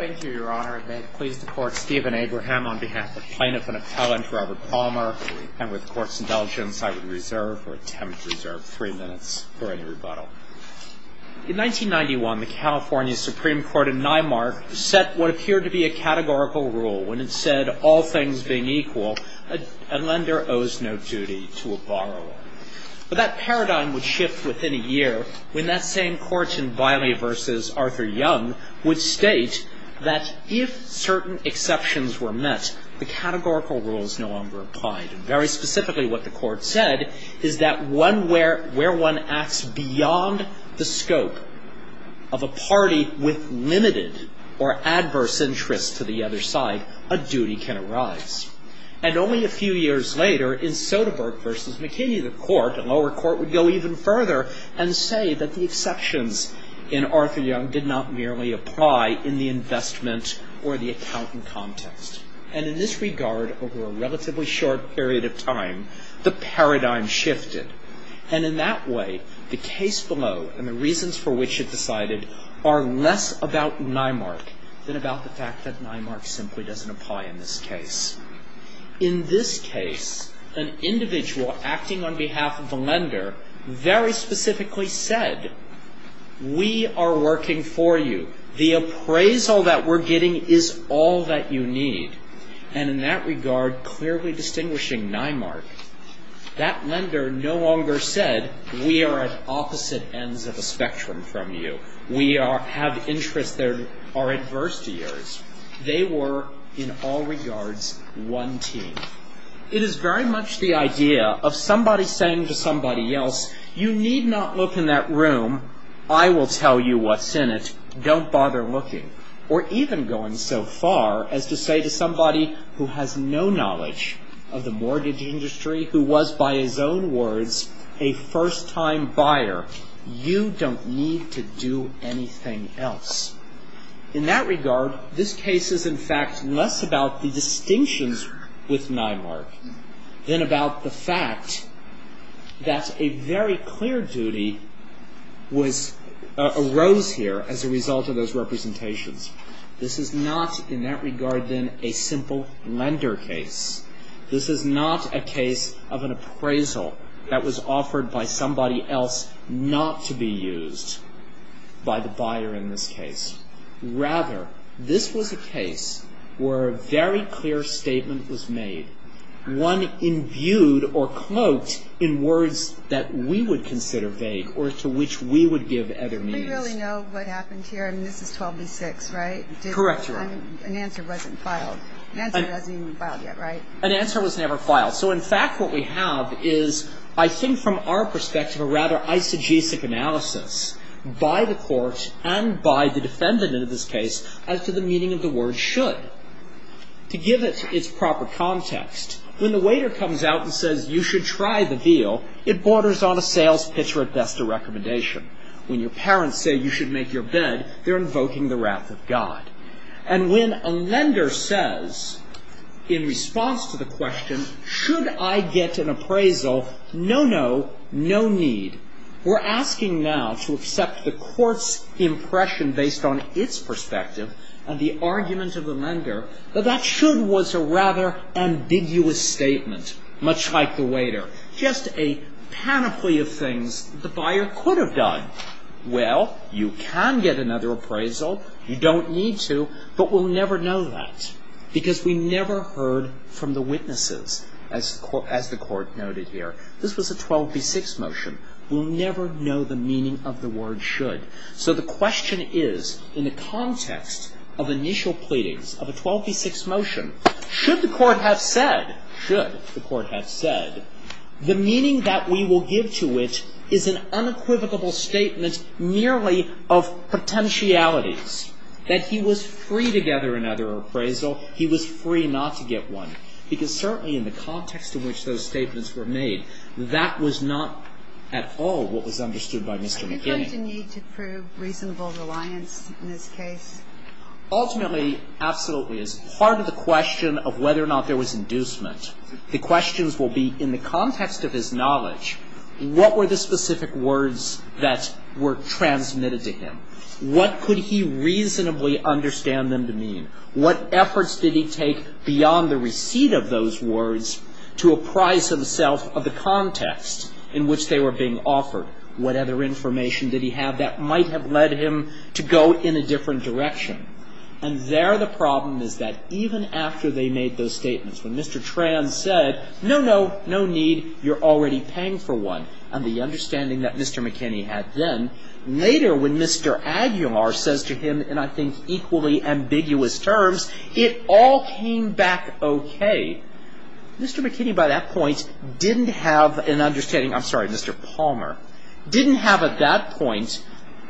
In 1991, the California Supreme Court in Nymar set what appeared to be a categorical rule when it said all things being equal, a lender owes no duty to a borrower. But that paradigm would shift within a year when that same court in Biley v. Arthur Young would state that if certain exceptions were met, the categorical rule is no longer applied. And very specifically what the court said is that where one acts beyond the scope of a party with limited or adverse interests to the other side, a duty can arise. And only a few years later, in Soderberg v. McKinney, the lower court would go even further and say that the exceptions in Arthur Young did not merely apply in the investment or the accountant context. And in this regard, over a relatively short period of time, the paradigm shifted. And in that way, the case below and the reasons for which it decided are less about Nymar than about the fact that Nymar simply doesn't apply in this case. In this case, an individual acting on behalf of the lender very specifically said, we are working for you. The appraisal that we're getting is all that you need. And in that regard, clearly distinguishing Nymar, that lender no longer said, we are at opposite ends of the spectrum from you. We have interests that are adverse to yours. They were, in all regards, one team. It is very much the idea of somebody saying to somebody else, you need not look in that room. I will tell you what's in it. Don't bother looking. Or even going so far as to say to somebody who has no knowledge of the mortgage industry, who was, by his own words, a first-time buyer, you don't need to do anything else. In that regard, this case is, in fact, less about the distinctions with Nymar than about the fact that a very clear duty arose here as a result of those representations. This is not, in that regard, then, a simple lender case. This is not a case of an appraisal that was offered by somebody else not to be used by the buyer in this case. Rather, this was a case where a very clear statement was made, one imbued or cloaked in words that we would consider vague or to which we would give other means. We don't really know what happened here. I mean, this is 12 v. 6, right? Correct, Your Honor. An answer wasn't filed. An answer wasn't even filed yet, right? An answer was never filed. So, in fact, what we have is, I think from our perspective, a rather eisegesic analysis by the court and by the defendant in this case as to the meaning of the word should. To give it its proper context, when the waiter comes out and says, you should try the veal, it borders on a sales pitch or, at best, a recommendation. When your parents say you should make your bed, they're invoking the wrath of God. And when a lender says, in response to the question, should I get an appraisal, no, no, no need. We're asking now to accept the court's impression based on its perspective and the argument of the lender that that should was a rather ambiguous statement, much like the waiter. Just a panoply of things the buyer could have done. Well, you can get another appraisal. You don't need to. But we'll never know that because we never heard from the witnesses, as the court noted here. This was a 12 v. 6 motion. We'll never know the meaning of the word should. So the question is, in the context of initial pleadings of a 12 v. 6 motion, should the court have said, should the court have said, the meaning that we will give to it is an unequivocal statement merely of potentialities. That he was free to gather another appraisal. He was free not to get one. Because certainly in the context in which those statements were made, that was not at all what was understood by Mr. McKinney. Are you going to need to prove reasonable reliance in this case? Ultimately, absolutely. As part of the question of whether or not there was inducement, the questions will be in the context of his knowledge, what were the specific words that were transmitted to him? What could he reasonably understand them to mean? What efforts did he take beyond the receipt of those words to apprise himself of the context in which they were being offered? What other information did he have that might have led him to go in a different direction? And there the problem is that even after they made those statements, when Mr. Tran said, no, no, no need. You're already paying for one. And the understanding that Mr. McKinney had then, later when Mr. Aguilar says to him, and I think equally ambiguous terms, it all came back okay. Mr. McKinney by that point didn't have an understanding, I'm sorry, Mr. Palmer, didn't have at that point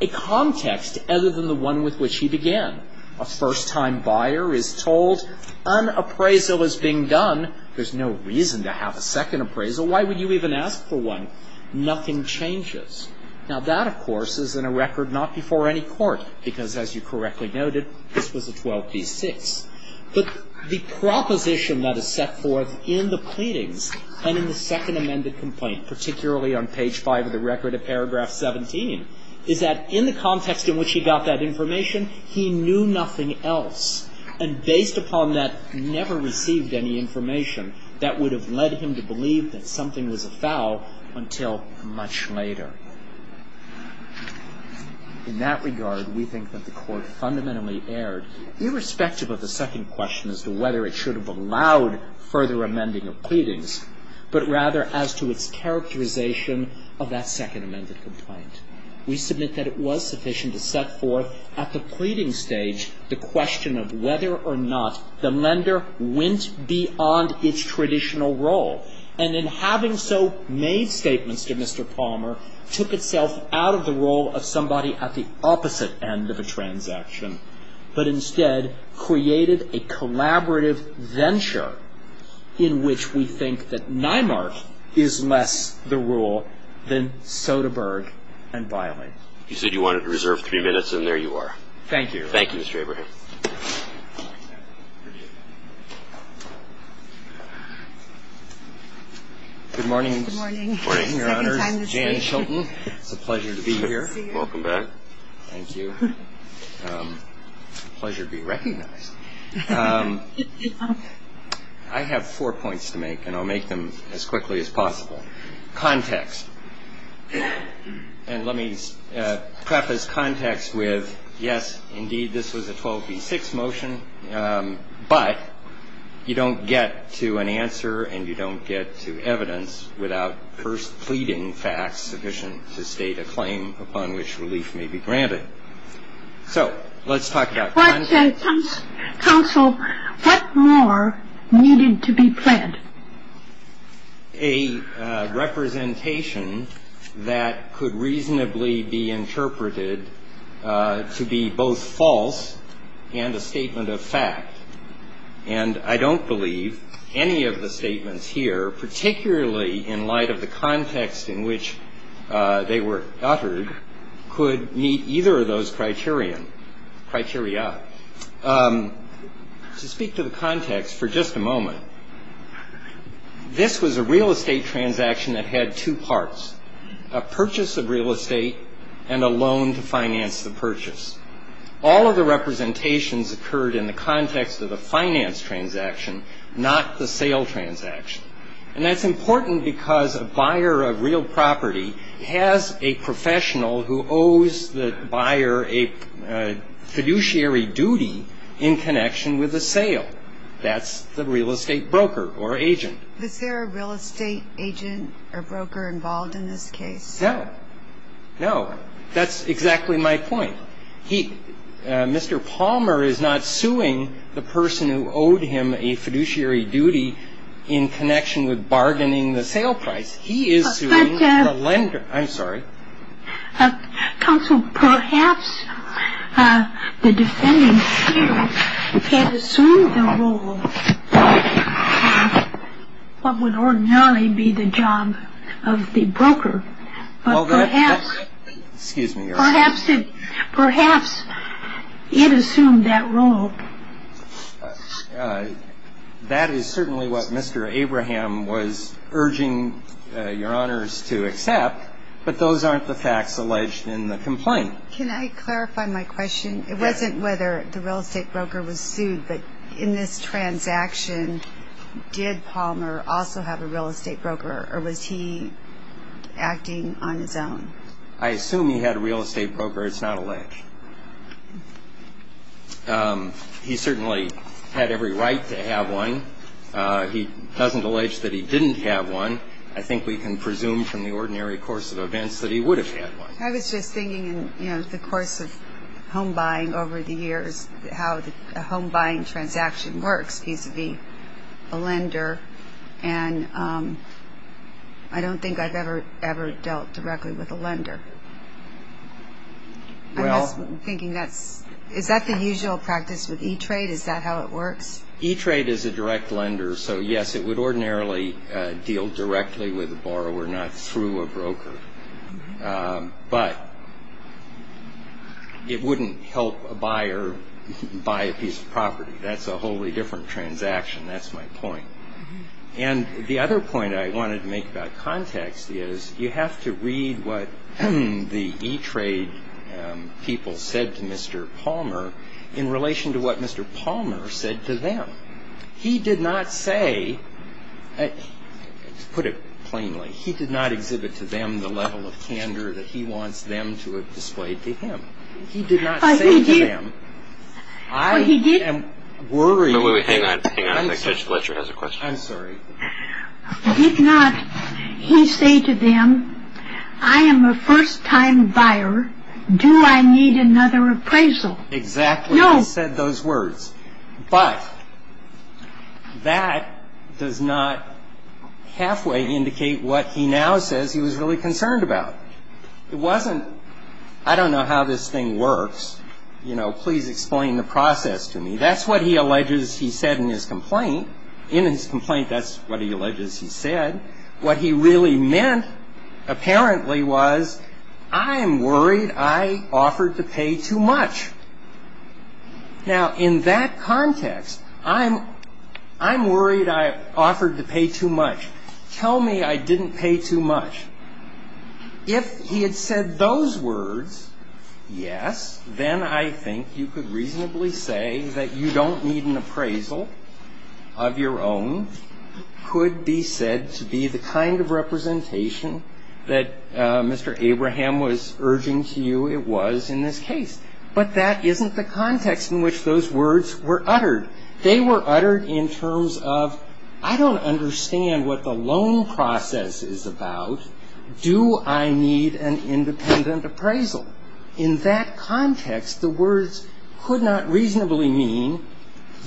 a context other than the one with which he began. A first-time buyer is told an appraisal is being done. There's no reason to have a second appraisal. Why would you even ask for one? Nothing changes. Now, that, of course, is in a record not before any court, because as you correctly noted, this was a 12b-6. But the proposition that is set forth in the pleadings and in the second amended complaint, particularly on page 5 of the record of paragraph 17, is that in the context in which he got that information, he knew nothing else. And based upon that, never received any information that would have led him to believe that something was afoul until much later. In that regard, we think that the Court fundamentally erred, irrespective of the second question as to whether it should have allowed further amending of pleadings, but rather as to its characterization of that second amended complaint. We submit that it was sufficient to set forth at the pleading stage the question of whether or not the lender went beyond its traditional role. And in having so made statements to Mr. Palmer, took itself out of the role of somebody at the opposite end of a transaction, but instead created a collaborative venture in which we think that Nymark is less the rule than Soderbergh and Biling. You said you wanted to reserve three minutes, and there you are. Thank you. Thank you, Mr. Abraham. Good morning. Good morning, Your Honor. Second time this week. Jan Chilton. It's a pleasure to be here. Welcome back. Thank you. Pleasure to be recognized. I have four points to make, and I'll make them as quickly as possible. Context. And let me preface context with, yes, indeed, this was a 12B6 motion, but you don't get to an answer and you don't get to evidence without first pleading facts sufficient to state a claim upon which relief may be granted. So let's talk about context. Counsel, what more needed to be pledged? A representation that could reasonably be interpreted to be both false and a statement of fact. And I don't believe any of the statements here, particularly in light of the context in which they were uttered, could meet either of those criteria. To speak to the context for just a moment, this was a real estate transaction that had two parts, a purchase of real estate and a loan to finance the purchase. All of the representations occurred in the context of the finance transaction, not the sale transaction. And that's important because a buyer of real property has a professional who owes the buyer a fiduciary duty in connection with the sale. That's the real estate broker or agent. Is there a real estate agent or broker involved in this case? No. No. That's exactly my point. Mr. Palmer is not suing the person who owed him a fiduciary duty in connection with bargaining the sale price. He is suing the lender. I'm sorry. Counsel, perhaps the defendant here can assume the role of what would ordinarily be the job of the broker. Excuse me, Your Honor. Perhaps it assumed that role. That is certainly what Mr. Abraham was urging Your Honors to accept, but those aren't the facts alleged in the complaint. Can I clarify my question? It wasn't whether the real estate broker was sued, but in this transaction, did Palmer also have a real estate broker or was he acting on his own? I assume he had a real estate broker. It's not alleged. He certainly had every right to have one. He doesn't allege that he didn't have one. I think we can presume from the ordinary course of events that he would have had one. I was just thinking in the course of home buying over the years how the home buying transaction works vis-à-vis a lender, and I don't think I've ever dealt directly with a lender. I'm just thinking that's the usual practice with E-Trade, is that how it works? E-Trade is a direct lender, so yes, it would ordinarily deal directly with a borrower, not through a broker. But it wouldn't help a buyer buy a piece of property. That's a wholly different transaction. That's my point. And the other point I wanted to make about context is you have to read what the E-Trade people said to Mr. Palmer in relation to what Mr. Palmer said to them. He did not say, to put it plainly, he did not exhibit to them the level of candor that he wants them to have displayed to him. He did not say to them, I am worried. Hang on. I think Judge Fletcher has a question. I'm sorry. Did not he say to them, I am a first-time buyer. Do I need another appraisal? Exactly. He said those words. But that does not halfway indicate what he now says he was really concerned about. It wasn't, I don't know how this thing works. You know, please explain the process to me. That's what he alleges he said in his complaint. In his complaint, that's what he alleges he said. What he really meant apparently was, I am worried I offered to pay too much. Now, in that context, I'm worried I offered to pay too much. Tell me I didn't pay too much. If he had said those words, yes, then I think you could reasonably say that you don't need an appraisal of your own, could be said to be the kind of representation that Mr. Abraham was urging to you it was in this case. But that isn't the context in which those words were uttered. They were uttered in terms of, I don't understand what the loan process is about. Do I need an independent appraisal? In that context, the words could not reasonably mean,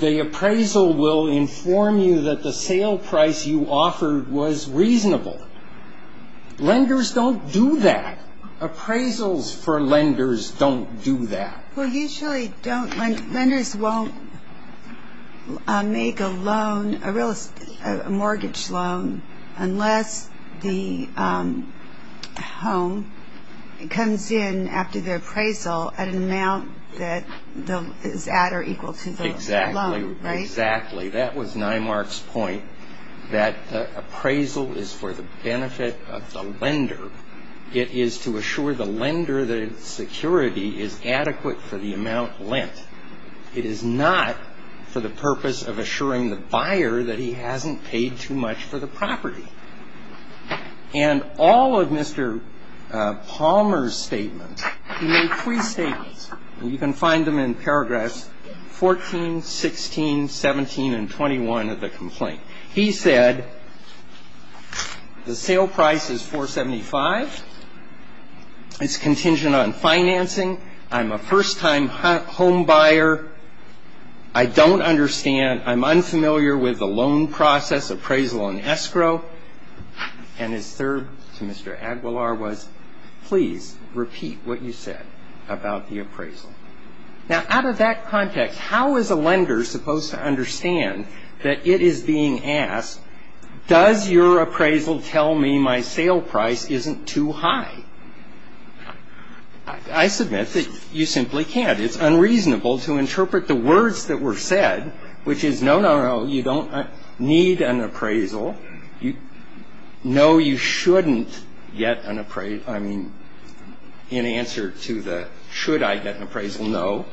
the appraisal will inform you that the sale price you offered was reasonable. Lenders don't do that. Appraisals for lenders don't do that. Well, usually don't. Lenders won't make a mortgage loan unless the home comes in after the appraisal at an amount that is at or equal to the loan. Exactly. Exactly. That was Neimark's point, that appraisal is for the benefit of the lender. It is to assure the lender that its security is adequate for the amount lent. It is not for the purpose of assuring the buyer that he hasn't paid too much for the property. And all of Mr. Palmer's statements, he made three statements, and you can find them in paragraphs 14, 16, 17, and 21 of the complaint. He said, the sale price is 475. It's contingent on financing. I'm a first-time home buyer. I don't understand. I'm unfamiliar with the loan process appraisal and escrow. And his third to Mr. Aguilar was, please repeat what you said about the appraisal. Now, out of that context, how is a lender supposed to understand that it is being asked, does your appraisal tell me my sale price isn't too high? I submit that you simply can't. It's unreasonable to interpret the words that were said, which is, no, no, no, you don't need an appraisal. No, you shouldn't get an appraisal. I mean, in answer to the should I get an appraisal, no.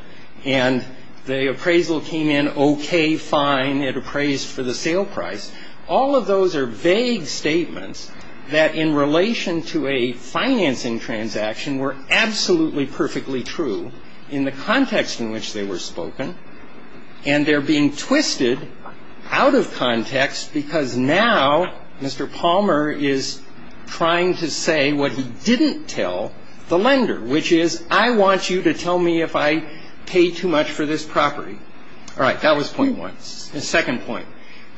And the appraisal came in okay, fine. It appraised for the sale price. All of those are vague statements that, in relation to a financing transaction, were absolutely perfectly true in the context in which they were spoken. And they're being twisted out of context because now Mr. Palmer is trying to say what he didn't tell the lender, which is, I want you to tell me if I pay too much for this property. All right, that was point one. The second point,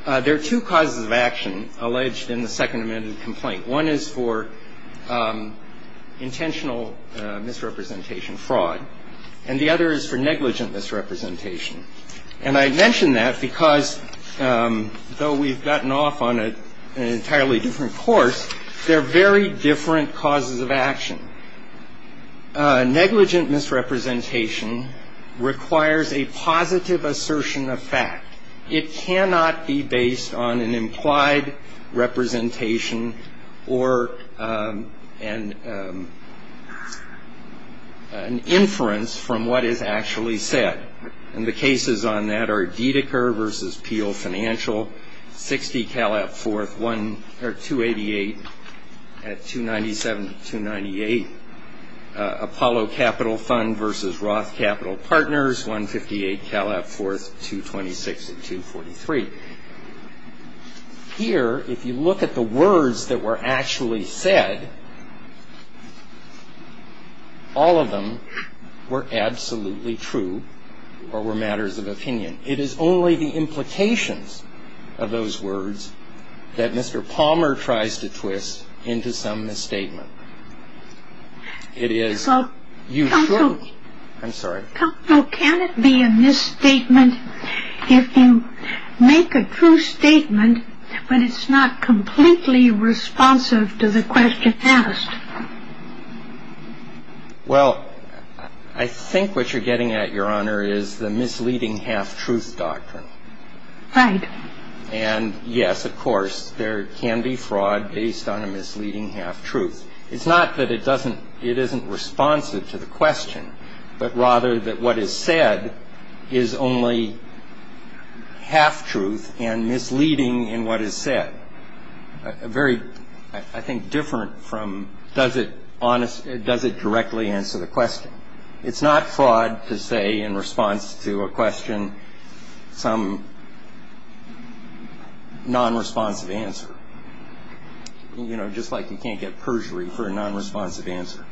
there are two causes of action alleged in the Second Amendment complaint. One is for intentional misrepresentation, fraud, and the other is for negligent misrepresentation. And I mention that because, though we've gotten off on an entirely different course, they're very different causes of action. Negligent misrepresentation requires a positive assertion of fact. It cannot be based on an implied representation or an inference from what is actually said. And the cases on that are Dedecker v. Peel Financial, 60 Calab Fourth, 288 at 297-298. Apollo Capital Fund v. Roth Capital Partners, 158 Calab Fourth, 226 at 243. Here, if you look at the words that were actually said, all of them were absolutely true or were matters of opinion. It is only the implications of those words that Mr. Palmer tries to twist into some misstatement. Counsel, can it be a misstatement if you make a true statement, but it's not completely responsive to the question asked? Well, I think what you're getting at, Your Honor, is the misleading half-truth doctrine. Right. And, yes, of course, there can be fraud based on a misleading half-truth. It's not that it doesn't – it isn't responsive to the question, but rather that what is said is only half-truth and misleading in what is said. I think it's very different from does it directly answer the question. It's not fraud to say in response to a question some non-responsive answer, you know, just like you can't get perjury for a non-responsive answer.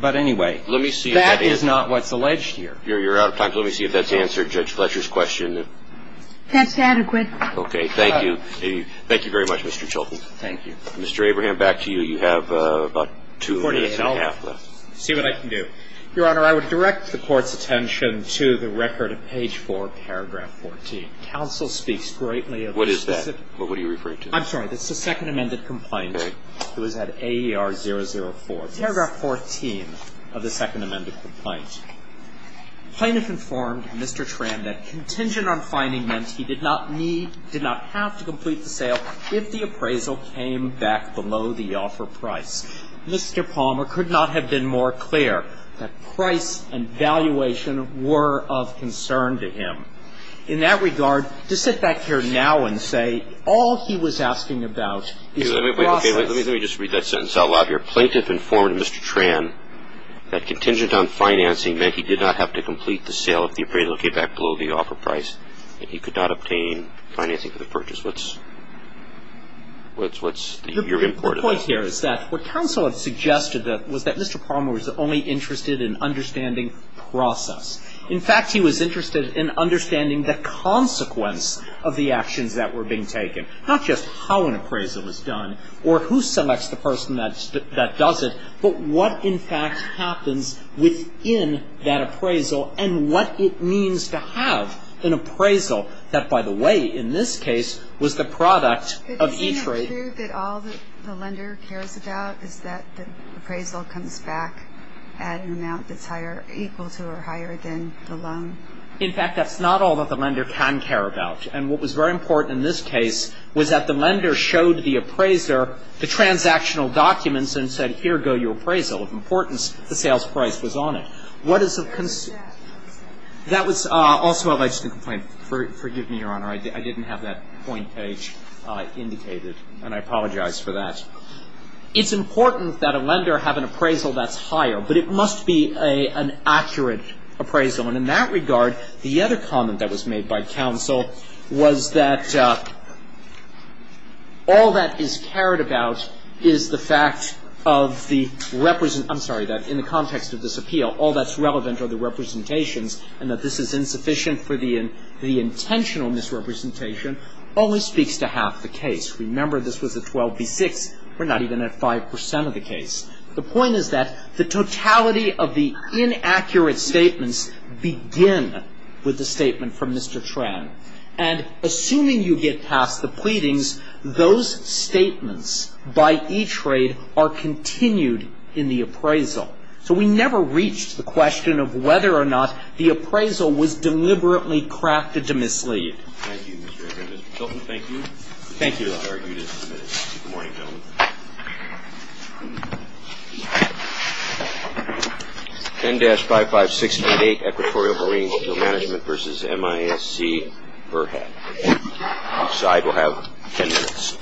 But, anyway, that is not what's alleged here. You're out of time. Let me see if that's answered Judge Fletcher's question. That's adequate. Okay. Thank you. Thank you very much, Mr. Chilton. Thank you. Mr. Abraham, back to you. You have about two minutes and a half left. See what I can do. Your Honor, I would direct the Court's attention to the record of page 4, paragraph 14. Counsel speaks greatly of the specific – What is that? What are you referring to? I'm sorry. That's the Second Amended Complaint. Right. It was at AER004. Yes. Paragraph 14 of the Second Amended Complaint. Plaintiff informed Mr. Tran that contingent on fining meant he did not need – did not have to complete the sale if the appraisal came back below the offer price. Mr. Palmer could not have been more clear that price and valuation were of concern to him. In that regard, to sit back here now and say all he was asking about is the process – Let me just read that sentence out loud here. That contingent on financing meant he did not have to complete the sale if the appraisal came back below the offer price, and he could not obtain financing for the purchase. What's your import of that? The point here is that what counsel had suggested was that Mr. Palmer was only interested in understanding process. In fact, he was interested in understanding the consequence of the actions that were being taken, not just how an appraisal was done or who selects the person that does it, but what in fact happens within that appraisal and what it means to have an appraisal that, by the way, in this case, was the product of e-trade. But isn't it true that all the lender cares about is that the appraisal comes back at an amount that's higher – equal to or higher than the loan? In fact, that's not all that the lender can care about. And what was very important in this case was that the lender showed the appraiser the transactional documents and said, here go your appraisal. Of importance, the sales price was on it. What is the – that was also a legitimate complaint. Forgive me, Your Honor. I didn't have that point page indicated, and I apologize for that. It's important that a lender have an appraisal that's higher, but it must be an accurate appraisal. And in that regard, the other comment that was made by counsel was that all that is cared about is the fact of the – I'm sorry, that in the context of this appeal, all that's relevant are the representations and that this is insufficient for the intentional misrepresentation only speaks to half the case. Remember, this was a 12 v. 6. We're not even at 5 percent of the case. The point is that the totality of the inaccurate statements begin with the statement from Mr. Tran. And assuming you get past the pleadings, those statements by E-Trade are continued in the appraisal. So we never reached the question of whether or not the appraisal was deliberately crafted to mislead. Thank you, Mr. Ecker. Mr. Chilton, thank you. Thank you, Your Honor. Good morning, gentlemen. 10-55688, Equatorial Marine Field Management v. MISC, Burhat. Each side will have ten minutes.